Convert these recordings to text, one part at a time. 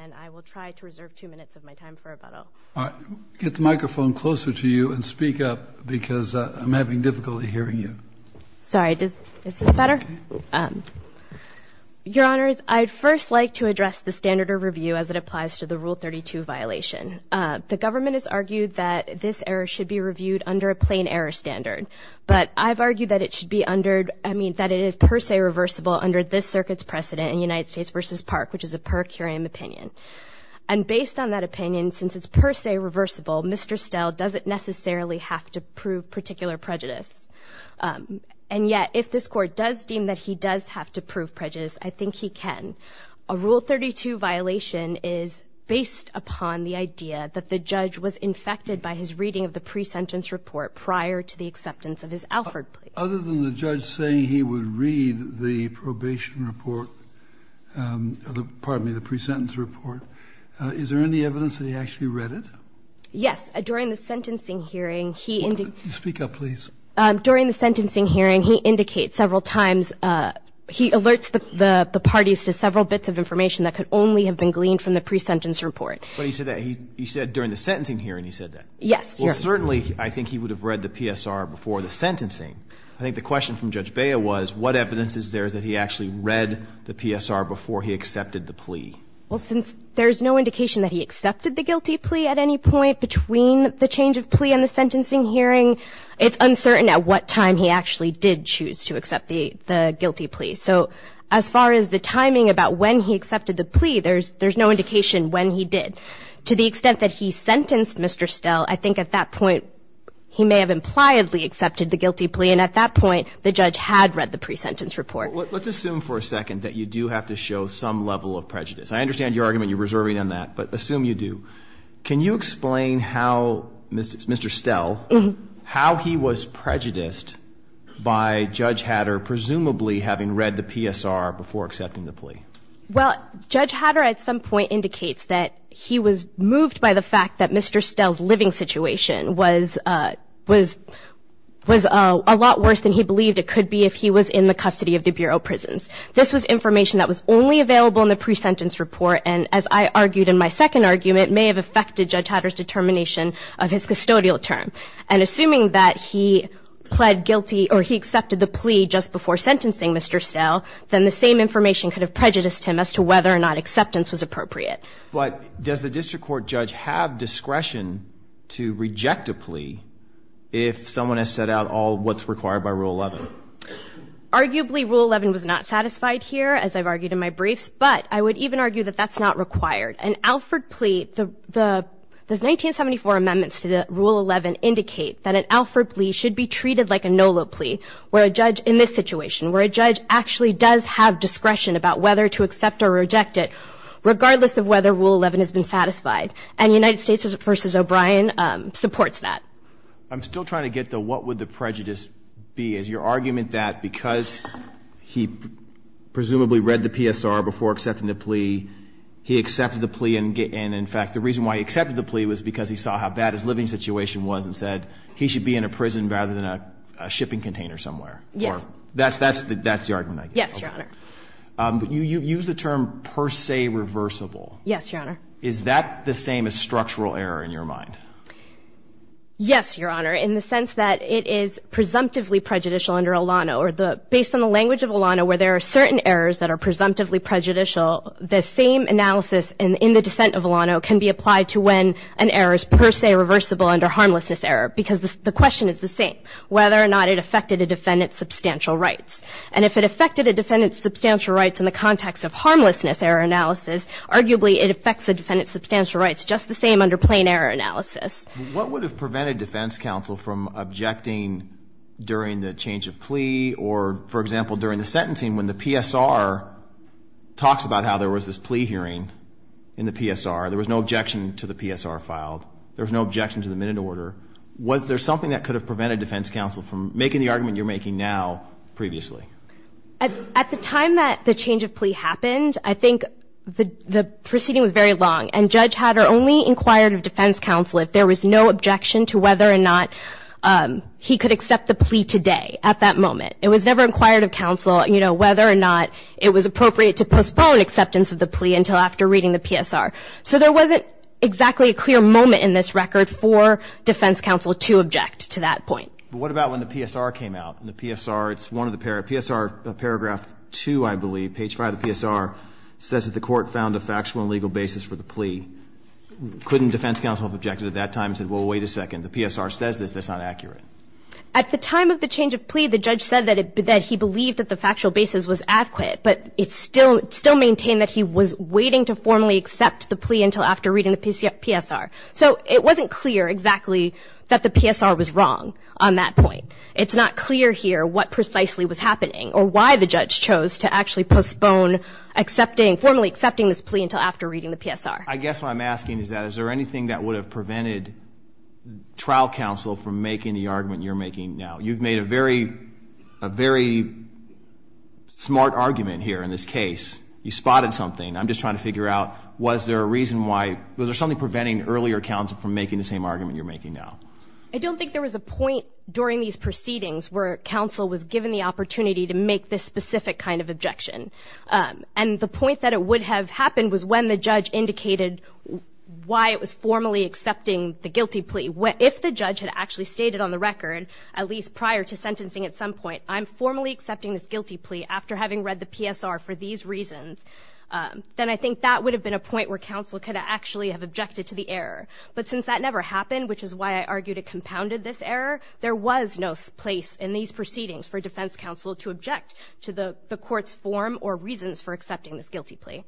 and I will try to reserve two minutes of my time for rebuttal. Get the microphone closer to you and speak up because I'm having difficulty hearing you. Sorry, is this better? Your Honors, I'd first like to address the standard of review as it applies to the Rule 32 violation. The government has argued that this error should be reviewed under a plain error standard, but I've argued that it should be under, I mean, that it is per se reversible under this circuit's precedent in United States v. Park, which is a per curiam opinion. And based on that opinion, since it's per se reversible, Mr. Stehl doesn't necessarily have to prove particular prejudice. And yet if this Court does deem that he does have to prove prejudice, I think he can. A Rule 32 violation is based upon the idea that the judge was infected by his reading of the pre-sentence report prior to the acceptance of his Alford plea. Other than the judge saying he would read the probation report or the, pardon me, the pre-sentence report, is there any evidence that he actually read it? Yes. During the sentencing hearing, he indeed. Speak up, please. During the sentencing hearing, he indicates several times, he alerts the parties to several bits of information that could only have been gleaned from the pre-sentence report. But he said that. He said during the sentencing hearing he said that. Yes. Well, certainly, I think he would have read the PSR before the sentencing. I think the question from Judge Bea was, what evidence is there that he actually read the PSR before he accepted the plea? Well, since there's no indication that he accepted the guilty plea at any point between the change of plea and the sentencing hearing, it's uncertain at what time he actually did choose to accept the guilty plea. So as far as the timing about when he accepted the plea, there's no indication when he did. To the extent that he sentenced Mr. Stell, I think at that point he may have impliedly accepted the guilty plea, and at that point the judge had read the pre-sentence report. Well, let's assume for a second that you do have to show some level of prejudice. I understand your argument, you're reserving on that, but assume you do. Can you explain how Mr. Stell, how he was prejudiced by Judge Hatter, presumably having read the PSR before accepting the plea? Well, Judge Hatter at some point indicates that he was moved by the fact that Mr. Stell's living situation was a lot worse than he believed it could be if he was in the custody of the Bureau of Prisons. This was information that was only available in the pre-sentence report, and as I argued in my second argument, may have affected Judge Hatter's determination of his custodial term. And assuming that he pled guilty or he accepted the plea just before sentencing Mr. Stell, then the same information could have prejudiced him as to whether or not acceptance was appropriate. But does the district court judge have discretion to reject a plea if someone has set out all what's required by Rule 11? Arguably, Rule 11 was not satisfied here, as I've argued in my briefs, but I would even argue that that's not required. An Alford plea, the 1974 amendments to Rule 11 indicate that an Alford plea should be treated like a NOLA plea where a judge in this situation, where a judge actually does have discretion about whether to accept or reject it, regardless of whether Rule 11 has been satisfied. And United States v. O'Brien supports that. I'm still trying to get to what would the prejudice be. Your argument that because he presumably read the PSR before accepting the plea, he accepted the plea and, in fact, the reason why he accepted the plea was because he saw how bad his living situation was and said he should be in a prison rather than a shipping container somewhere. Yes. That's the argument, I guess. Yes, Your Honor. You use the term per se reversible. Yes, Your Honor. Is that the same as structural error in your mind? Yes, Your Honor. It's a structural error in the sense that it is presumptively prejudicial under Olano, or based on the language of Olano, where there are certain errors that are presumptively prejudicial, the same analysis in the dissent of Olano can be applied to when an error is per se reversible under harmlessness error because the question is the same, whether or not it affected a defendant's substantial rights. And if it affected a defendant's substantial rights in the context of harmlessness error analysis, arguably it affects the defendant's substantial rights just the same under plain error analysis. What would have prevented defense counsel from objecting during the change of plea or, for example, during the sentencing when the PSR talks about how there was this plea hearing in the PSR? There was no objection to the PSR filed. There was no objection to the minute order. Was there something that could have prevented defense counsel from making the argument you're making now previously? At the time that the change of plea happened, I think the proceeding was very long, and judge Hatter only inquired of defense counsel if there was no objection to whether or not he could accept the plea today at that moment. It was never inquired of counsel, you know, whether or not it was appropriate to postpone acceptance of the plea until after reading the PSR. So there wasn't exactly a clear moment in this record for defense counsel to object to that point. But what about when the PSR came out? In the PSR, it's one of the PSR paragraph 2, I believe, page 5 of the PSR says that the court found a factual and legal basis for the plea. Couldn't defense counsel have objected at that time and said, well, wait a second, the PSR says this, that's not accurate? At the time of the change of plea, the judge said that he believed that the factual basis was adequate, but it still maintained that he was waiting to formally accept the plea until after reading the PSR. So it wasn't clear exactly that the PSR was wrong on that point. It's not clear here what precisely was happening or why the judge chose to actually postpone formally accepting this plea until after reading the PSR. I guess what I'm asking is that is there anything that would have prevented trial counsel from making the argument you're making now? You've made a very smart argument here in this case. You spotted something. I'm just trying to figure out was there a reason why, was there something preventing earlier counsel from making the same argument you're making now? I don't think there was a point during these proceedings where counsel was given the opportunity to make this specific kind of objection. And the point that it would have happened was when the judge indicated why it was formally accepting the guilty plea. If the judge had actually stated on the record, at least prior to sentencing at some point, I'm formally accepting this guilty plea after having read the PSR for these reasons, then I think that would have been a point where counsel could have actually objected to the error. But since that never happened, which is why I argued it compounded this error, there was no place in these proceedings for defense counsel to object to the court's form or reasons for accepting this guilty plea.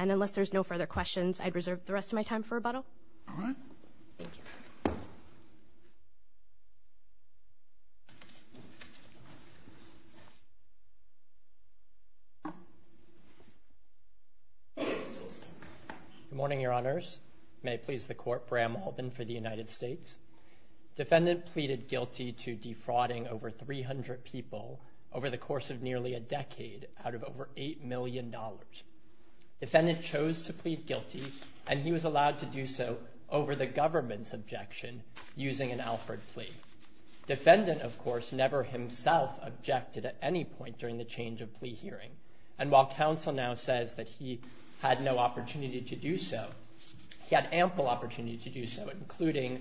And unless there's no further questions, I'd reserve the rest of my time for rebuttal. All right. Thank you. Good morning, Your Honors. May it please the Court, Bram Alden for the United States. Defendant pleaded guilty to defrauding over 300 people over the course of nearly a decade out of over $8 million. Defendant chose to plead guilty and he was allowed to do so over the government's objection using an Alford plea. Defendant, of course, never himself objected at any point during the change of plea hearing. And while counsel now says that he had no opportunity to do so, he had ample opportunity to do so, including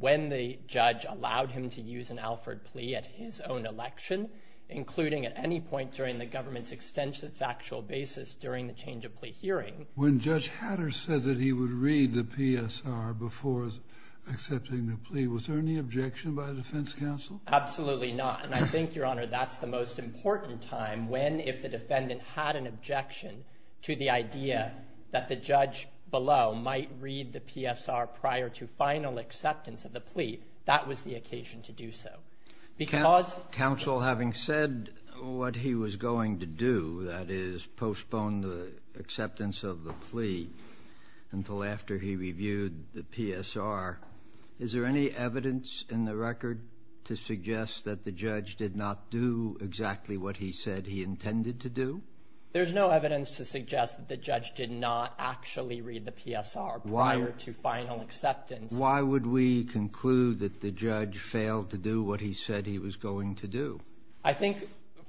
when the judge allowed him to use an Alford plea at his own election, including at any point during the government's extension of factual basis during the change of plea hearing. When Judge Hatter said that he would read the PSR before accepting the plea, was there any objection by the defense counsel? Absolutely not. And I think, Your Honor, that's the most important time when if the defendant had an objection to the PSR prior to final acceptance of the plea, that was the occasion to do so. Counsel, having said what he was going to do, that is postpone the acceptance of the plea until after he reviewed the PSR, is there any evidence in the record to suggest that the judge did not do exactly what he said he intended to do? There's no evidence to suggest that the judge did not actually read the PSR prior to final acceptance. Why would we conclude that the judge failed to do what he said he was going to do? I think,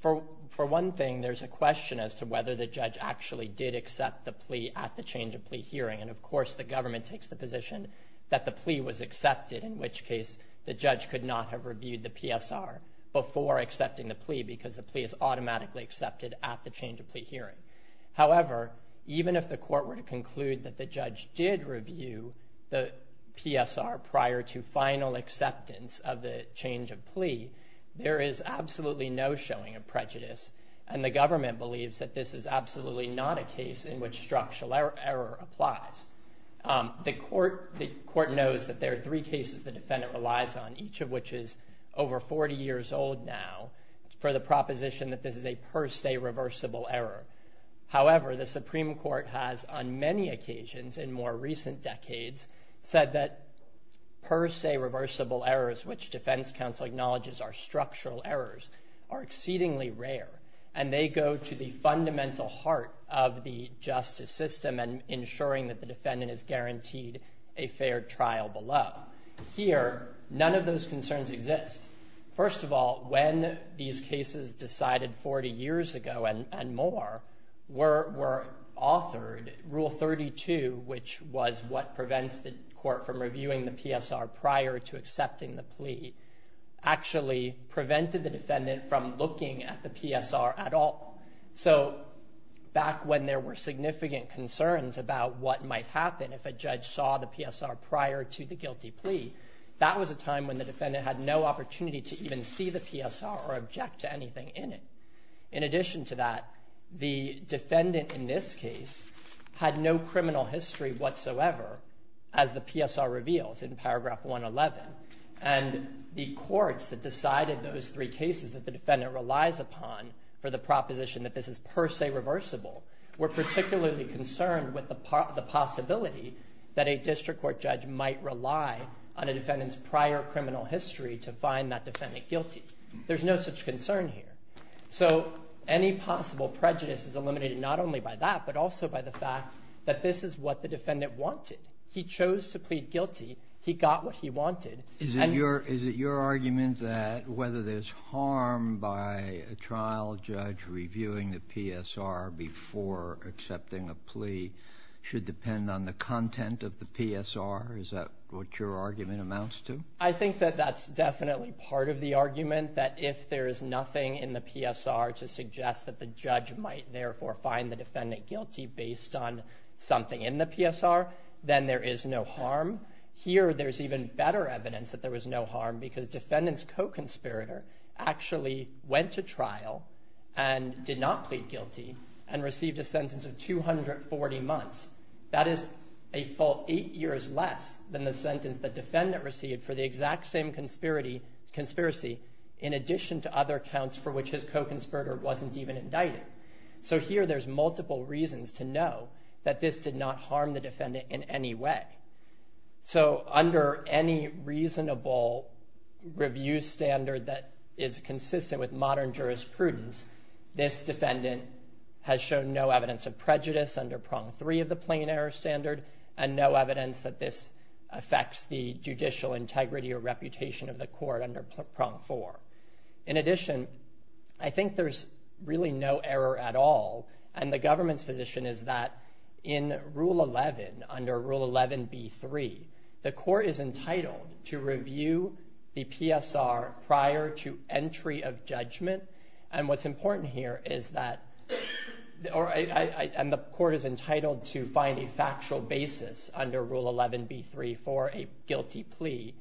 for one thing, there's a question as to whether the judge actually did accept the plea at the change of plea hearing. And, of course, the government takes the position that the plea was accepted, in which case the judge could not have reviewed the PSR before accepting the change of plea hearing. However, even if the court were to conclude that the judge did review the PSR prior to final acceptance of the change of plea, there is absolutely no showing of prejudice, and the government believes that this is absolutely not a case in which structural error applies. The court knows that there are three cases the defendant relies on, each of which is over 40 years old now. It's per the proposition that this is a per se reversible error. However, the Supreme Court has, on many occasions in more recent decades, said that per se reversible errors, which defense counsel acknowledges are structural errors, are exceedingly rare, and they go to the fundamental heart of the justice system and ensuring that the defendant is guaranteed a fair trial below. Here, none of those concerns exist. First of all, when these cases decided 40 years ago and more, were authored, Rule 32, which was what prevents the court from reviewing the PSR prior to accepting the plea, actually prevented the defendant from looking at the PSR at all. So, back when there were significant concerns about what might happen if a judge saw the PSR prior to the guilty plea, that was a time when the defendant had no opportunity to even see the PSR or object to anything in it. In addition to that, the defendant in this case had no criminal history whatsoever, as the PSR reveals in paragraph 111, and the courts that decided those three cases that the defendant relies upon for the proposition that this is per se reversible, were particularly concerned with the possibility that a district court judge might rely on a defendant's prior criminal history to find that defendant guilty. There's no such concern here. So, any possible prejudice is eliminated not only by that, but also by the fact that this is what the defendant wanted. He chose to plead guilty. He got what he wanted. Is it your argument that whether there's harm by a trial judge reviewing the PSR before accepting a plea should depend on the content of the PSR? Is that what your argument amounts to? I think that that's definitely part of the argument, that if there is nothing in the PSR to suggest that the judge might, therefore, find the defendant guilty based on something in the PSR, then there is no harm. Here, there's even better evidence that there was no harm because defendant's co-conspirator actually went to trial and did not plead guilty and received a sentence of 240 months. That is a full eight years less than the sentence the defendant received for the exact same conspiracy in addition to other counts for which his co-conspirator wasn't even indicted. So, here there's multiple reasons to know that this did not harm the defendant in any way. So, under any reasonable review standard that is consistent with modern jurisprudence, this defendant has shown no evidence of prejudice under prong three of the plain error standard and no evidence that this affects the judicial integrity or reputation of the court under prong four. In addition, I think there's really no error at all and the government's position is that in rule 11, under rule 11B3, the court is entitled to review the PSR prior to entry of judgment. And what's important here is that, and the court is entitled to find a factual basis under rule 11B3 for a guilty plea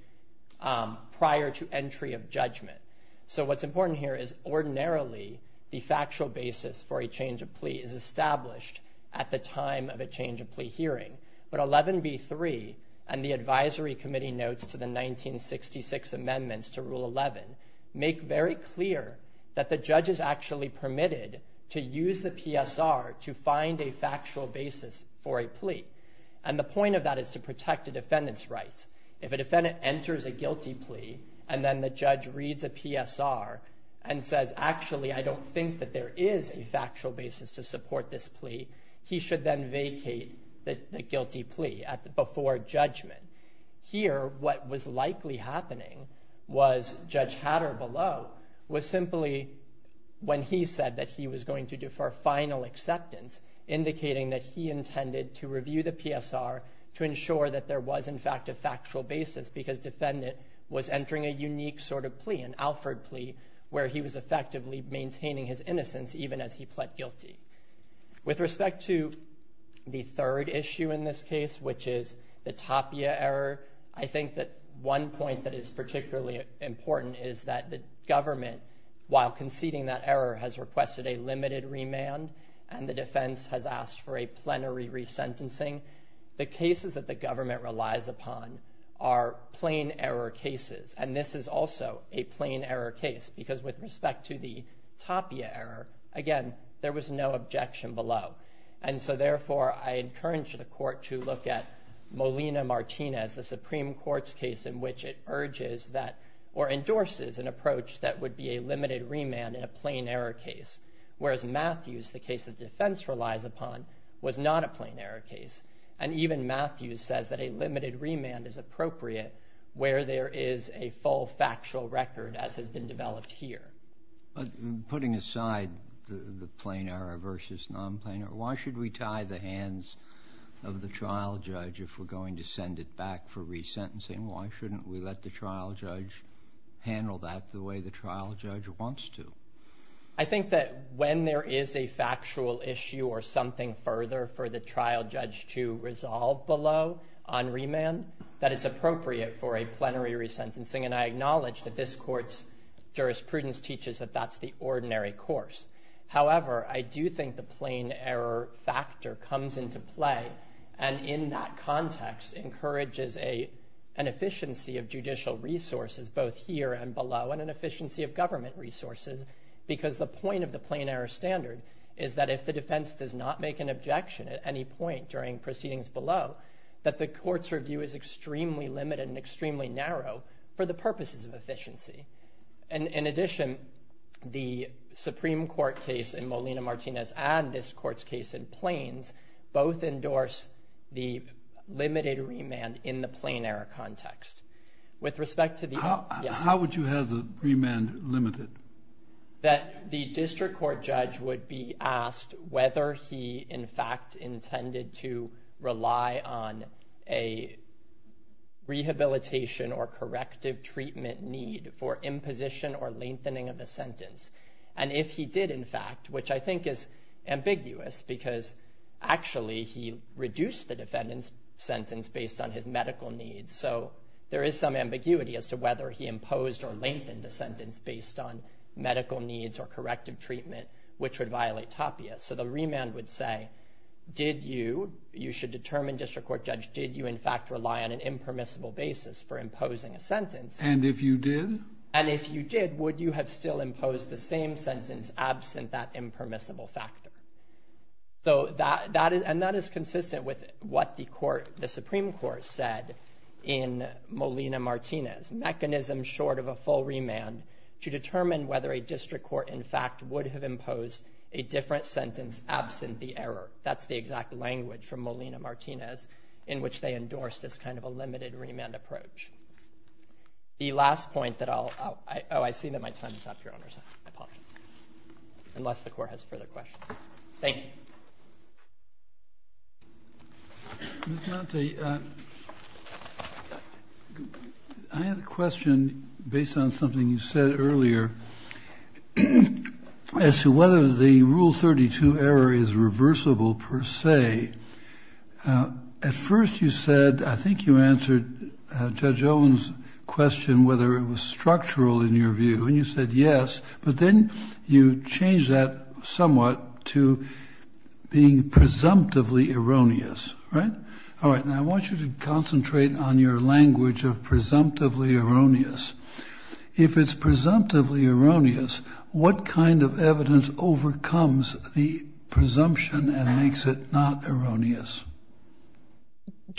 prior to entry of judgment. So, what's important here is ordinarily the factual basis for a change of plea is established at the time of a change of plea hearing. But 11B3 and the advisory committee notes to the 1966 amendments to rule 11 make very clear that the judge is actually permitted to use the PSR to find a factual basis for a plea. And the point of that is to protect a defendant's rights. If a defendant enters a guilty plea and then the judge reads a PSR and says, actually, I don't think that there is a factual basis to support this plea, he should then vacate the guilty plea before judgment. Here, what was likely happening was Judge Hatter below was simply when he said that he was going to defer final acceptance, indicating that he intended to review the PSR to ensure that there was, in fact, a factual basis because defendant was entering a unique sort of plea, an Alford plea, where he was effectively maintaining his innocence even as he pled guilty. With respect to the third issue in this case, which is the Tapia error, I think that one point that is particularly important is that the government, while conceding that error, has requested a limited remand and the defense has asked for a plenary resentencing. The cases that the government relies upon are plain error cases. And this is also a plain error case because with respect to the Tapia error, again, there was no objection below. And so therefore, I encourage the court to look at Molina-Martinez, the Supreme Court's case in which it urges that or endorses an approach that would be a limited remand in a plain error case. Whereas Matthews, the case that defense relies upon, was not a plain error case. And even Matthews says that a limited remand is appropriate where there is a full factual record as has been developed here. Putting aside the plain error versus non-plain error, why should we tie the hands of the trial judge if we're going to send it back for resentencing? Why shouldn't we let the trial judge handle that the way the trial judge wants to? I think that when there is a factual issue or something further for the trial judge to resolve below on remand, that it's appropriate for a plenary resentencing. And I acknowledge that this court's jurisprudence teaches that that's the ordinary course. However, I do think the plain error factor comes into play. And in that context, encourages an efficiency of judicial resources, both here and below, and an efficiency of government resources. Because the point of the plain error standard is that if the defense does not make an objection at any point during proceedings below, that the court's review is extremely limited and extremely narrow for the purposes of efficiency. And in addition, the Supreme Court case in Molina-Martinez and this court's case in Plains, both endorse the limited remand in the plain error context. With respect to the- How would you have the remand limited? to rely on a rehabilitation or corrective treatment need for imposition or lengthening of the sentence. And if he did, in fact, which I think is ambiguous because actually he reduced the defendant's sentence based on his medical needs. So there is some ambiguity as to whether he imposed or lengthened the sentence based on medical needs or corrective treatment, which would violate TAPIA. So the remand would say, did you, you should determine, District Court Judge, did you in fact rely on an impermissible basis for imposing a sentence? And if you did? And if you did, would you have still imposed the same sentence absent that impermissible factor? And that is consistent with what the Supreme Court said in Molina-Martinez. Mechanism short of a full remand to determine whether a district court in sentence absent the error. That's the exact language from Molina-Martinez in which they endorsed this kind of a limited remand approach. The last point that I'll- Oh, I see that my time is up, Your Honors. I apologize. Unless the Court has further questions. Thank you. Ms. Dante, I have a question based on something you said earlier. As to whether the Rule 32 error is reversible per se. At first you said, I think you answered Judge Owen's question, whether it was structural in your view. And you said yes. But then you changed that somewhat to being presumptively erroneous, right? All right. Now I want you to concentrate on your language of presumptively erroneous. If it's presumptively erroneous, what kind of evidence overcomes the presumption and makes it not erroneous?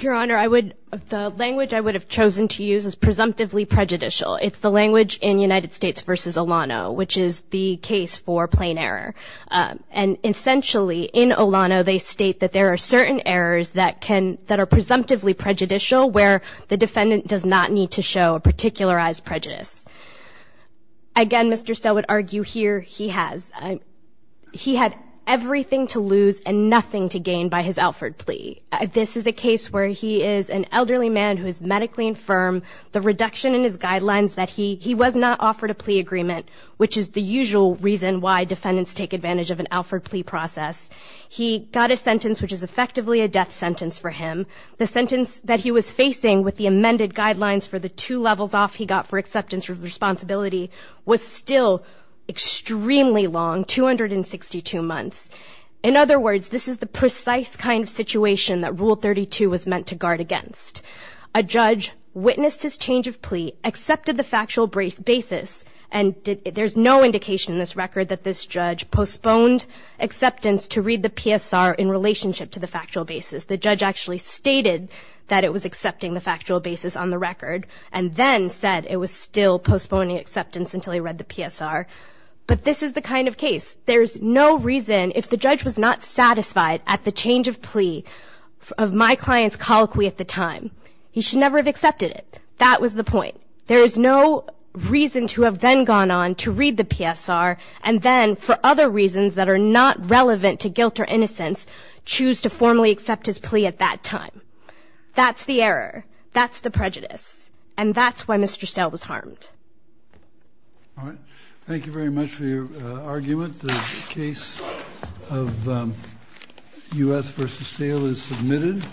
Your Honor, I would- the language I would have chosen to use is presumptively prejudicial. It's the language in United States v. Olano, which is the case for plain error. And essentially in Olano, they state that there are certain errors that can- that are presumptively prejudicial where the defendant does not need to show a particularized prejudice. Again, Mr. Stelwood argued here he has. He had everything to lose and nothing to gain by his Alford plea. This is a case where he is an elderly man who is medically infirm. The reduction in his guidelines that he- he was not offered a plea agreement, which is the usual reason why defendants take advantage of an Alford plea process. He got a sentence which is effectively a death sentence for him. The sentence that he was facing with the amended guidelines for the two levels off he got for acceptance of responsibility was still extremely long, 262 months. In other words, this is the precise kind of situation that Rule 32 was meant to guard against. A judge witnessed his change of plea, accepted the factual basis, and there's no indication in this record that this judge postponed acceptance to read the PSR in relationship to the factual basis. The judge actually stated that it was accepting the factual basis on the record and then said it was still postponing acceptance until he read the PSR. But this is the kind of case. There's no reason, if the judge was not satisfied at the change of plea of my client's colloquy at the time, he should never have accepted it. That was the point. There is no reason to have then gone on to read the PSR and then for other reasons that are not relevant to guilt or innocence choose to formally accept his plea at that time. That's the error. That's the prejudice. And that's why Mr. Stahel was harmed. All right. Thank you very much for your argument. The case of U.S. v. Stahel is submitted.